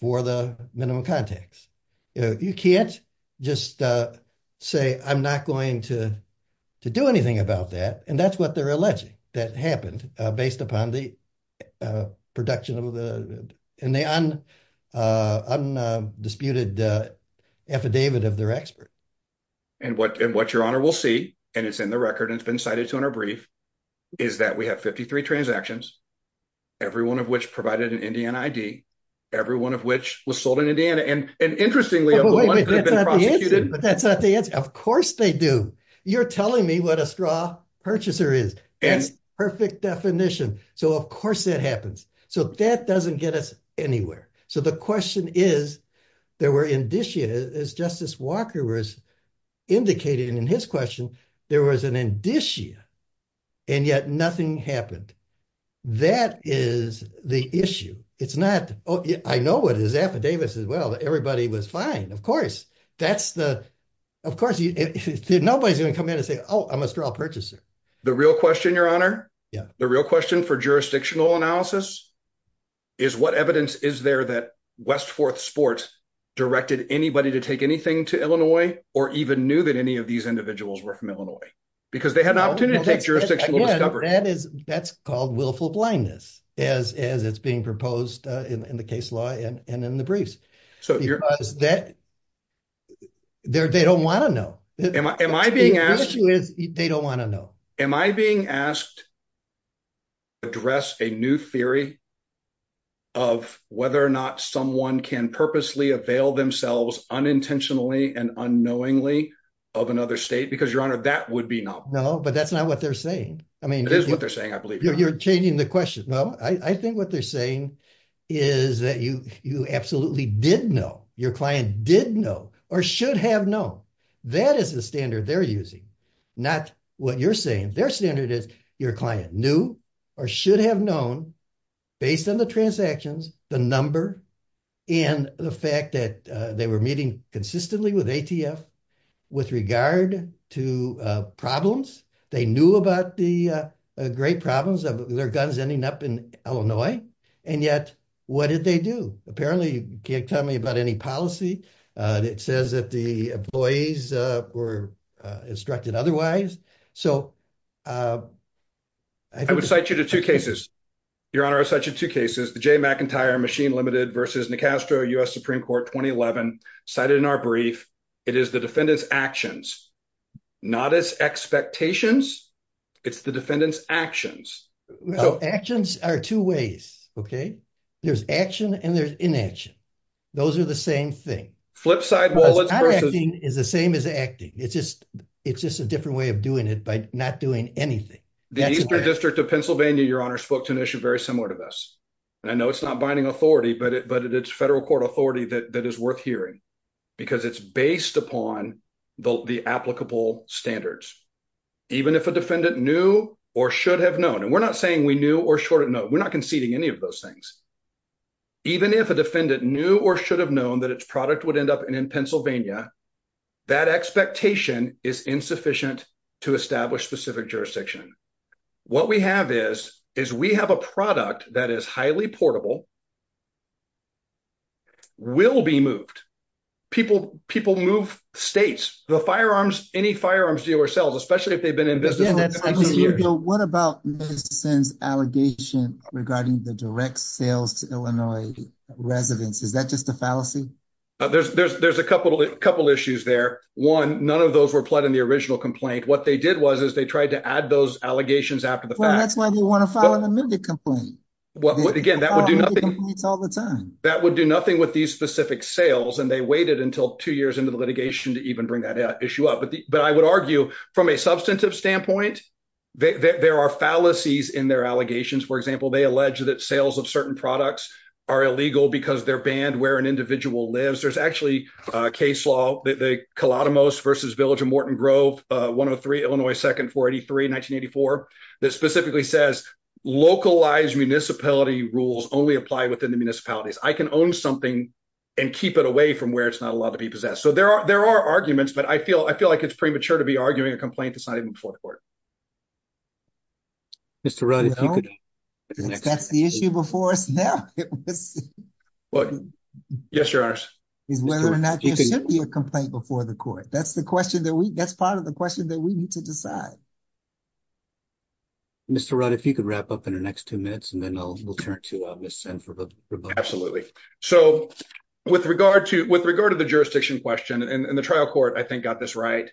for the minimum contacts. You can't just say I'm not going to do anything about that. And that's what they're alleging that happened based upon the production of the undisputed affidavit of their expert. And what Your Honor will see, and it's in the record and it's been cited to in our brief, is that we have 53 transactions, every one of which provided an Indiana ID, every one of which was sold in Indiana. And interestingly, of the ones that have been prosecuted. That's not the answer. Of course they do. You're telling me what a straw purchaser is. That's the perfect definition. So of course that happens. So that doesn't get us anywhere. So the question is, there were indicia, as Justice Walker was indicating in his question, there was an indicia. And yet nothing happened. That is the issue. It's not. I know what his affidavits as well. Everybody was fine. Of course, that's the. Of course, nobody's going to come in and say, oh, I'm a straw purchaser. The real question, Your Honor. The real question for jurisdictional analysis is what evidence is there that West Forth Sports directed anybody to take anything to Illinois, or even knew that any of these individuals were from Illinois. Because they had an opportunity to take jurisdictional discovery. That's called willful blindness, as it's being proposed in the case law and in the briefs. Because they don't want to know. Am I being asked. The issue is they don't want to know. Am I being asked to address a new theory of whether or not someone can purposely avail themselves unintentionally and unknowingly of another state? Because, Your Honor, that would be not. No, but that's not what they're saying. I mean, it is what they're saying. I believe you're changing the question. No, I think what they're saying is that you absolutely did know. Your client did know or should have known. That is the standard they're using. Not what you're saying. Their standard is your client knew or should have known, based on the transactions, the number, and the fact that they were meeting consistently with ATF. With regard to problems, they knew about the great problems of their guns ending up in Illinois. And yet, what did they do? Apparently, you can't tell me about any policy. It says that the employees were instructed otherwise. I would cite you to two cases. Your Honor, I would cite you to two cases. The Jay McIntyre Machine Limited v. Nicastro, U.S. Supreme Court, 2011. Cited in our brief. It is the defendant's actions, not his expectations. It's the defendant's actions. Actions are two ways, okay? There's action and there's inaction. Those are the same thing. It's the same as acting. It's just a different way of doing it by not doing anything. The Eastern District of Pennsylvania, Your Honor, spoke to an issue very similar to this. And I know it's not binding authority, but it's federal court authority that is worth hearing. Because it's based upon the applicable standards. Even if a defendant knew or should have known. And we're not saying we knew or should have known. We're not conceding any of those things. Even if a defendant knew or should have known that its product would end up in Pennsylvania, that expectation is insufficient to establish specific jurisdiction. What we have is, is we have a product that is highly portable, will be moved. People move states. The firearms, any firearms dealer sells, especially if they've been in business for 19 years. What about Madison's allegation regarding the direct sales to Illinois residents? Is that just a fallacy? There's a couple issues there. One, none of those were pled in the original complaint. What they did was is they tried to add those allegations after the fact. That's why they want to file an amended complaint. Again, that would do nothing. That would do nothing with these specific sales. And they waited until two years into the litigation to even bring that issue up. But I would argue, from a substantive standpoint, there are fallacies in their allegations. For example, they allege that sales of certain products are illegal because they're banned where an individual lives. There's actually a case law, the Kalatomos v. Village of Morton Grove, 103 Illinois 2nd, 483, 1984, that specifically says localized municipality rules only apply within the municipalities. I can own something and keep it away from where it's not allowed to be possessed. So there are arguments, but I feel like it's premature to be arguing a complaint that's not even before the court. Mr. Rudd, if you could. That's the issue before us now. Yes, Your Honor. Whether or not there should be a complaint before the court. That's part of the question that we need to decide. Mr. Rudd, if you could wrap up in the next two minutes, and then we'll turn to Ms. Senn for the rebuttal. Absolutely. So with regard to the jurisdiction question, and the trial court I think got this right,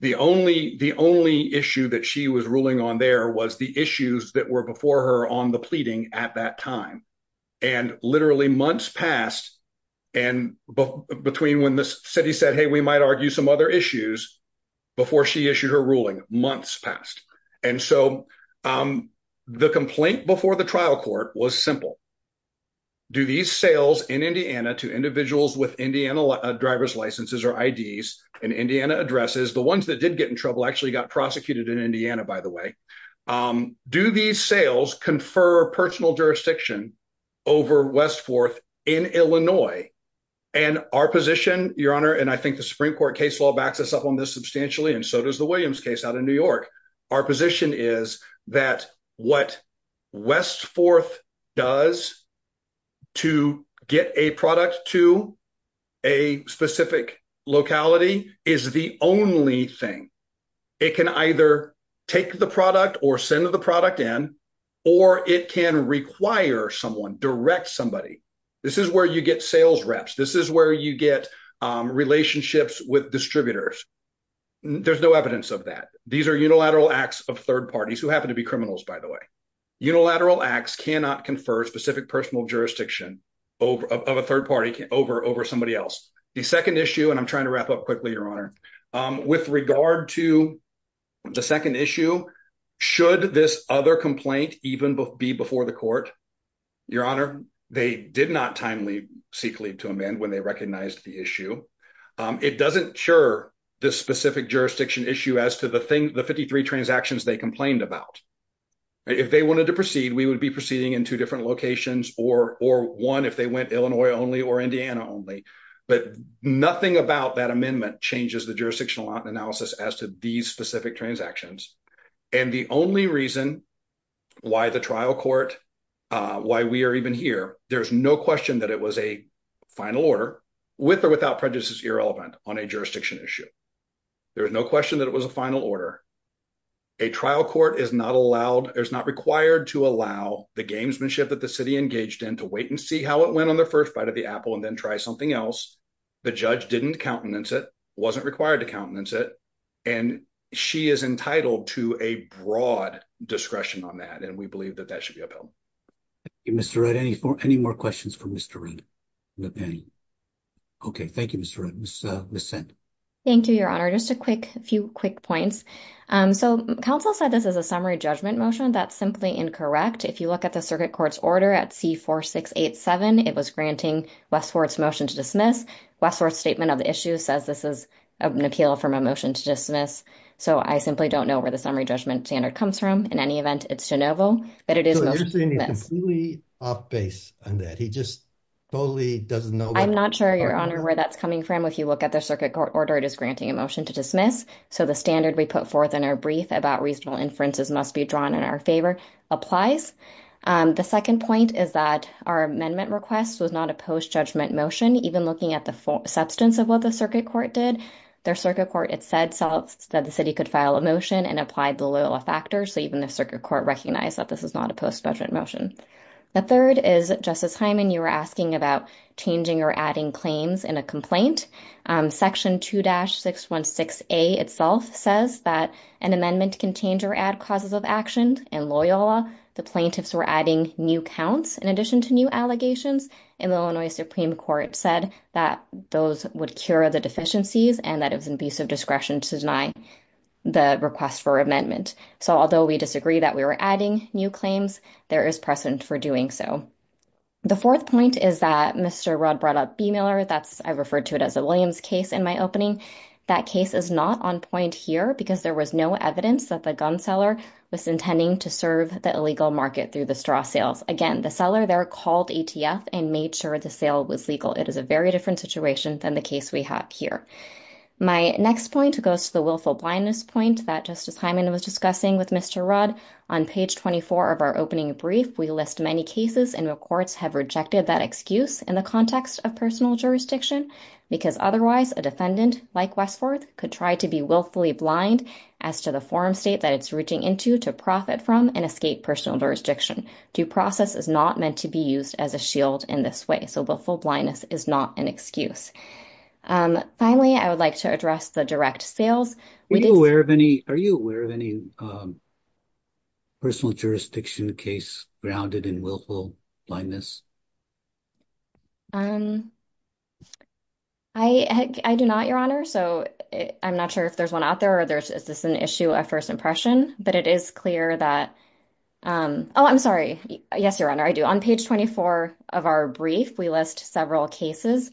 the only issue that she was ruling on there was the issues that were before her on the pleading at that time. And literally months passed, and between when the city said, hey, we might argue some other issues, before she issued her ruling, months passed. And so the complaint before the trial court was simple. Do these sales in Indiana to individuals with Indiana driver's licenses or IDs in Indiana addresses, the ones that did get in trouble actually got prosecuted in Indiana, by the way. Do these sales confer personal jurisdiction over West Forth in Illinois? And our position, Your Honor, and I think the Supreme Court case law backs us up on this substantially, and so does the Williams case out in New York. Our position is that what West Forth does to get a product to a specific locality is the only thing. It can either take the product or send the product in, or it can require someone, direct somebody. This is where you get sales reps. This is where you get relationships with distributors. There's no evidence of that. These are unilateral acts of third parties, who happen to be criminals, by the way. Unilateral acts cannot confer specific personal jurisdiction of a third party over somebody else. The second issue, and I'm trying to wrap up quickly, Your Honor, with regard to the second issue, should this other complaint even be before the court? Your Honor, they did not timely seek leave to amend when they recognized the issue. It doesn't cure this specific jurisdiction issue as to the 53 transactions they complained about. If they wanted to proceed, we would be proceeding in two different locations or one if they went Illinois only or Indiana only. But nothing about that amendment changes the jurisdictional analysis as to these specific transactions. And the only reason why the trial court, why we are even here, there's no question that it was a final order, with or without prejudices irrelevant on a jurisdiction issue. There is no question that it was a final order. A trial court is not allowed, is not required to allow the gamesmanship that the city engaged in to wait and see how it went on their first bite of the apple and then try something else. The judge didn't countenance it, wasn't required to countenance it, and she is entitled to a broad discretion on that. And we believe that that should be upheld. Mr. Rudd, any more questions for Mr. Rudd? Okay, thank you, Mr. Rudd. Ms. Senn. Thank you, Your Honor. Just a few quick points. So, counsel said this is a summary judgment motion. That's simply incorrect. If you look at the circuit court's order at C4687, it was granting Westford's motion to dismiss. Westford's statement of the issue says this is an appeal from a motion to dismiss, so I simply don't know where the summary judgment standard comes from. In any event, it's de novo. So you're saying he's completely off base on that. He just totally doesn't know. I'm not sure, Your Honor, where that's coming from. If you look at the circuit court order, it is granting a motion to dismiss. So the standard we put forth in our brief about reasonable inferences must be drawn in our favor. Applies. The second point is that our amendment request was not a post-judgment motion, even looking at the substance of what the circuit court did. Their circuit court had said that the city could file a motion and applied the Loyola factor, so even the circuit court recognized that this is not a post-judgment motion. The third is, Justice Hyman, you were asking about changing or adding claims in a complaint. Section 2-616A itself says that an amendment can change or add causes of action. In Loyola, the plaintiffs were adding new counts in addition to new allegations. And the Illinois Supreme Court said that those would cure the deficiencies and that it was an abuse of discretion to deny the request for amendment. So although we disagree that we were adding new claims, there is precedent for doing so. The fourth point is that Mr. Rudd brought up B-Miller. I referred to it as a Williams case in my opening. That case is not on point here because there was no evidence that the gun seller was intending to serve the illegal market through the straw sales. Again, the seller there called ATF and made sure the sale was legal. It is a very different situation than the case we have here. My next point goes to the willful blindness point that Justice Hyman was discussing with Mr. Rudd. On page 24 of our opening brief, we list many cases in which courts have rejected that excuse in the context of personal jurisdiction. Because otherwise, a defendant like Westforth could try to be willfully blind as to the form state that it's reaching into to profit from and escape personal jurisdiction. Due process is not meant to be used as a shield in this way. So willful blindness is not an excuse. Finally, I would like to address the direct sales. Are you aware of any personal jurisdiction case grounded in willful blindness? I do not, Your Honor. So I'm not sure if there's one out there or is this an issue of first impression. But it is clear that, oh, I'm sorry. Yes, Your Honor, I do. On page 24 of our brief, we list several cases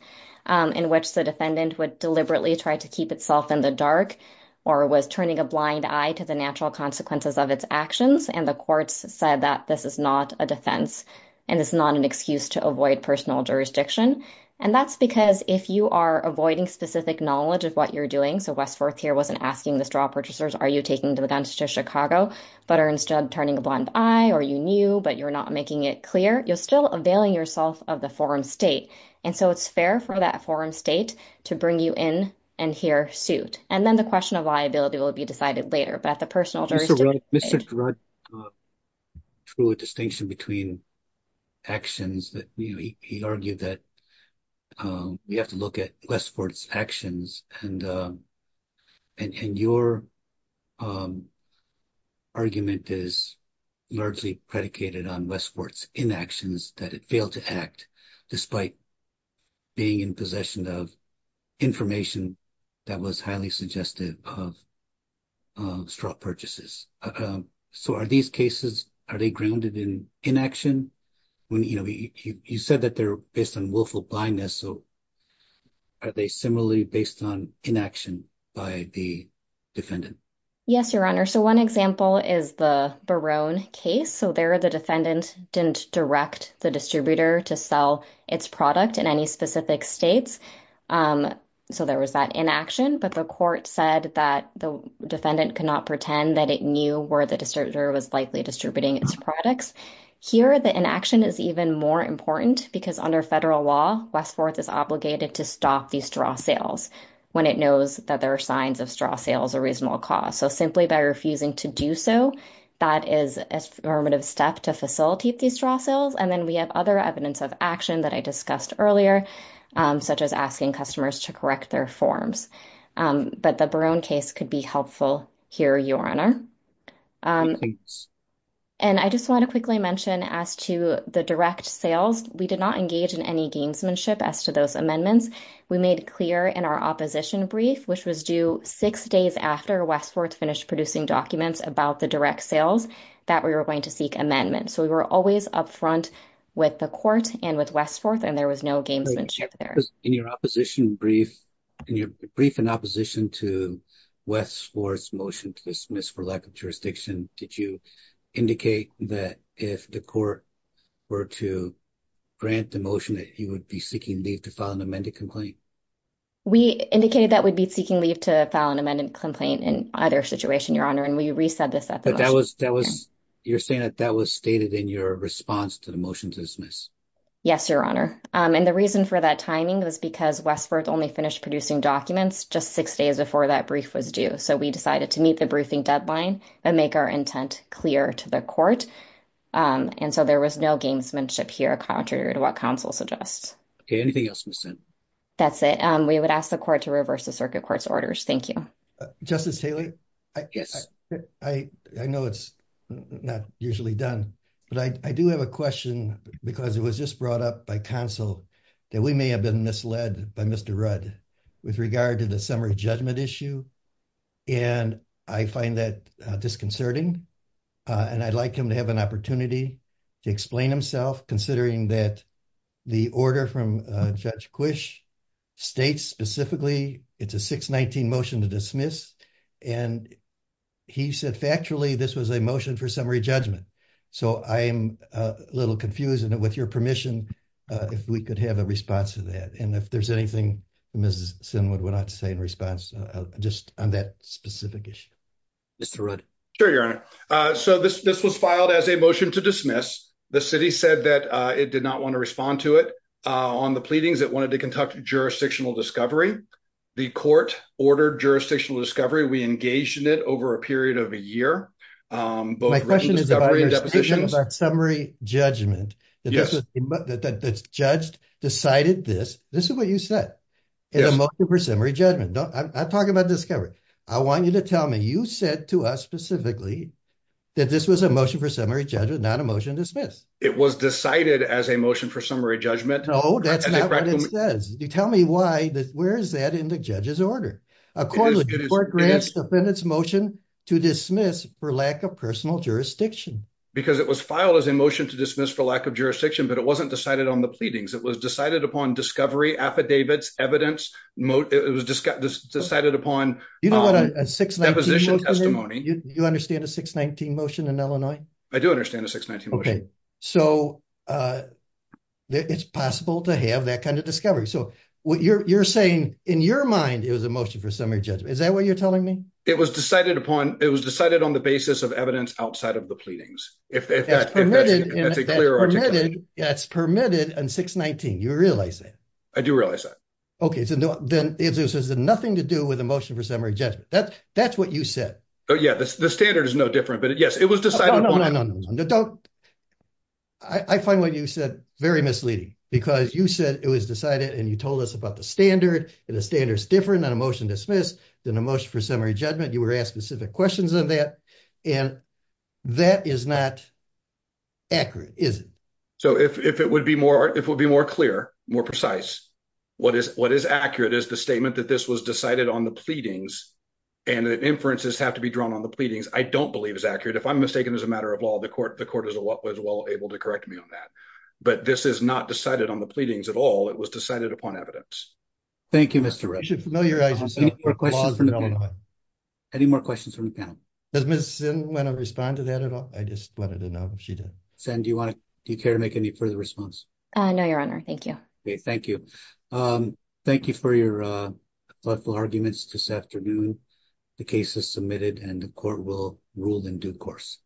in which the defendant would deliberately try to keep itself in the dark or was turning a blind eye to the natural consequences of its actions. And the courts said that this is not a defense and it's not an excuse to avoid personal jurisdiction. And that's because if you are avoiding specific knowledge of what you're doing. So Westforth here wasn't asking the straw purchasers, are you taking the guns to Chicago, but are instead turning a blind eye or you knew, but you're not making it clear. You're still availing yourself of the forum state. And so it's fair for that forum state to bring you in and hear suit. And then the question of liability will be decided later. Mr. A distinction between actions that he argued that we have to look at Westport's actions. And your argument is largely predicated on Westport's inactions that it failed to act despite being in possession of information that was highly suggestive of straw purchases. So are these cases, are they grounded in inaction? You said that they're based on willful blindness. So are they similarly based on inaction by the defendant? Yes, your honor. So one example is the Barone case. So there are the defendant didn't direct the distributor to sell its product in any specific states. So there was that inaction, but the court said that the defendant could not pretend that it knew where the distributor was likely distributing its products. Here, the inaction is even more important because under federal law, Westport is obligated to stop these straw sales when it knows that there are signs of straw sales or reasonable cost. So simply by refusing to do so, that is a formative step to facilitate these straw sales. And then we have other evidence of action that I discussed earlier, such as asking customers to correct their forms. But the Barone case could be helpful here, your honor. And I just want to quickly mention as to the direct sales, we did not engage in any gamesmanship as to those amendments. We made it clear in our opposition brief, which was due six days after Westport finished producing documents about the direct sales, that we were going to seek amendments. So we were always up front with the court and with Westport and there was no gamesmanship there. In your opposition brief, in your brief in opposition to Westport's motion to dismiss for lack of jurisdiction, did you indicate that if the court were to grant the motion that he would be seeking leave to file an amended complaint? We indicated that we'd be seeking leave to file an amended complaint in either situation, your honor, and we reset this at the motion. But that was, that was, you're saying that that was stated in your response to the motion to dismiss? Yes, your honor. And the reason for that timing was because Westport only finished producing documents just six days before that brief was due. So we decided to meet the briefing deadline and make our intent clear to the court. And so there was no gamesmanship here, contrary to what counsel suggests. Anything else? That's it. We would ask the court to reverse the circuit court's orders. Thank you. Justice Taylor, I know it's not usually done, but I do have a question because it was just brought up by counsel that we may have been misled by Mr. Rudd with regard to the summary judgment issue. And I find that disconcerting, and I'd like him to have an opportunity to explain himself, considering that the order from Judge Quish states specifically it's a 619 motion to dismiss. And he said, factually, this was a motion for summary judgment. So I am a little confused and with your permission, if we could have a response to that and if there's anything, Mrs. Sinwood would like to say in response, just on that specific issue. Mr. Rudd. Sure, your honor. So this, this was filed as a motion to dismiss. The city said that it did not want to respond to it on the pleadings that wanted to conduct jurisdictional discovery. The court ordered jurisdictional discovery. We engaged in it over a period of a year. My question is about summary judgment. The judge decided this. This is what you said. In a motion for summary judgment. I'm talking about discovery. I want you to tell me, you said to us specifically that this was a motion for summary judgment, not a motion to dismiss. It was decided as a motion for summary judgment. No, that's not what it says. You tell me why, where is that in the judge's order? According to the court grants defendant's motion to dismiss for lack of personal jurisdiction. Because it was filed as a motion to dismiss for lack of jurisdiction, but it wasn't decided on the pleadings. It was decided upon discovery, affidavits, evidence, it was decided upon deposition testimony. Do you understand a 619 motion in Illinois? I do understand a 619 motion. Okay, so it's possible to have that kind of discovery. So what you're saying, in your mind, it was a motion for summary judgment. Is that what you're telling me? It was decided upon. It was decided on the basis of evidence outside of the pleadings. That's permitted in 619. You realize that? I do realize that. Okay, so then it has nothing to do with a motion for summary judgment. That's what you said. Yeah, the standard is no different, but yes, it was decided upon. I find what you said very misleading because you said it was decided and you told us about the standard and the standard is different on a motion to dismiss than a motion for summary judgment. You were asked specific questions on that. And that is not accurate, is it? So, if it would be more clear, more precise, what is accurate is the statement that this was decided on the pleadings and the inferences have to be drawn on the pleadings. I don't believe is accurate. If I'm mistaken as a matter of law, the court is well able to correct me on that. But this is not decided on the pleadings at all. It was decided upon evidence. Thank you, Mr. Wright. Any more questions from the panel? Does Ms. Zinn want to respond to that at all? Zinn, do you care to make any further response? No, Your Honor. Thank you. Thank you. Thank you for your thoughtful arguments this afternoon. The case is submitted and the court will rule in due course.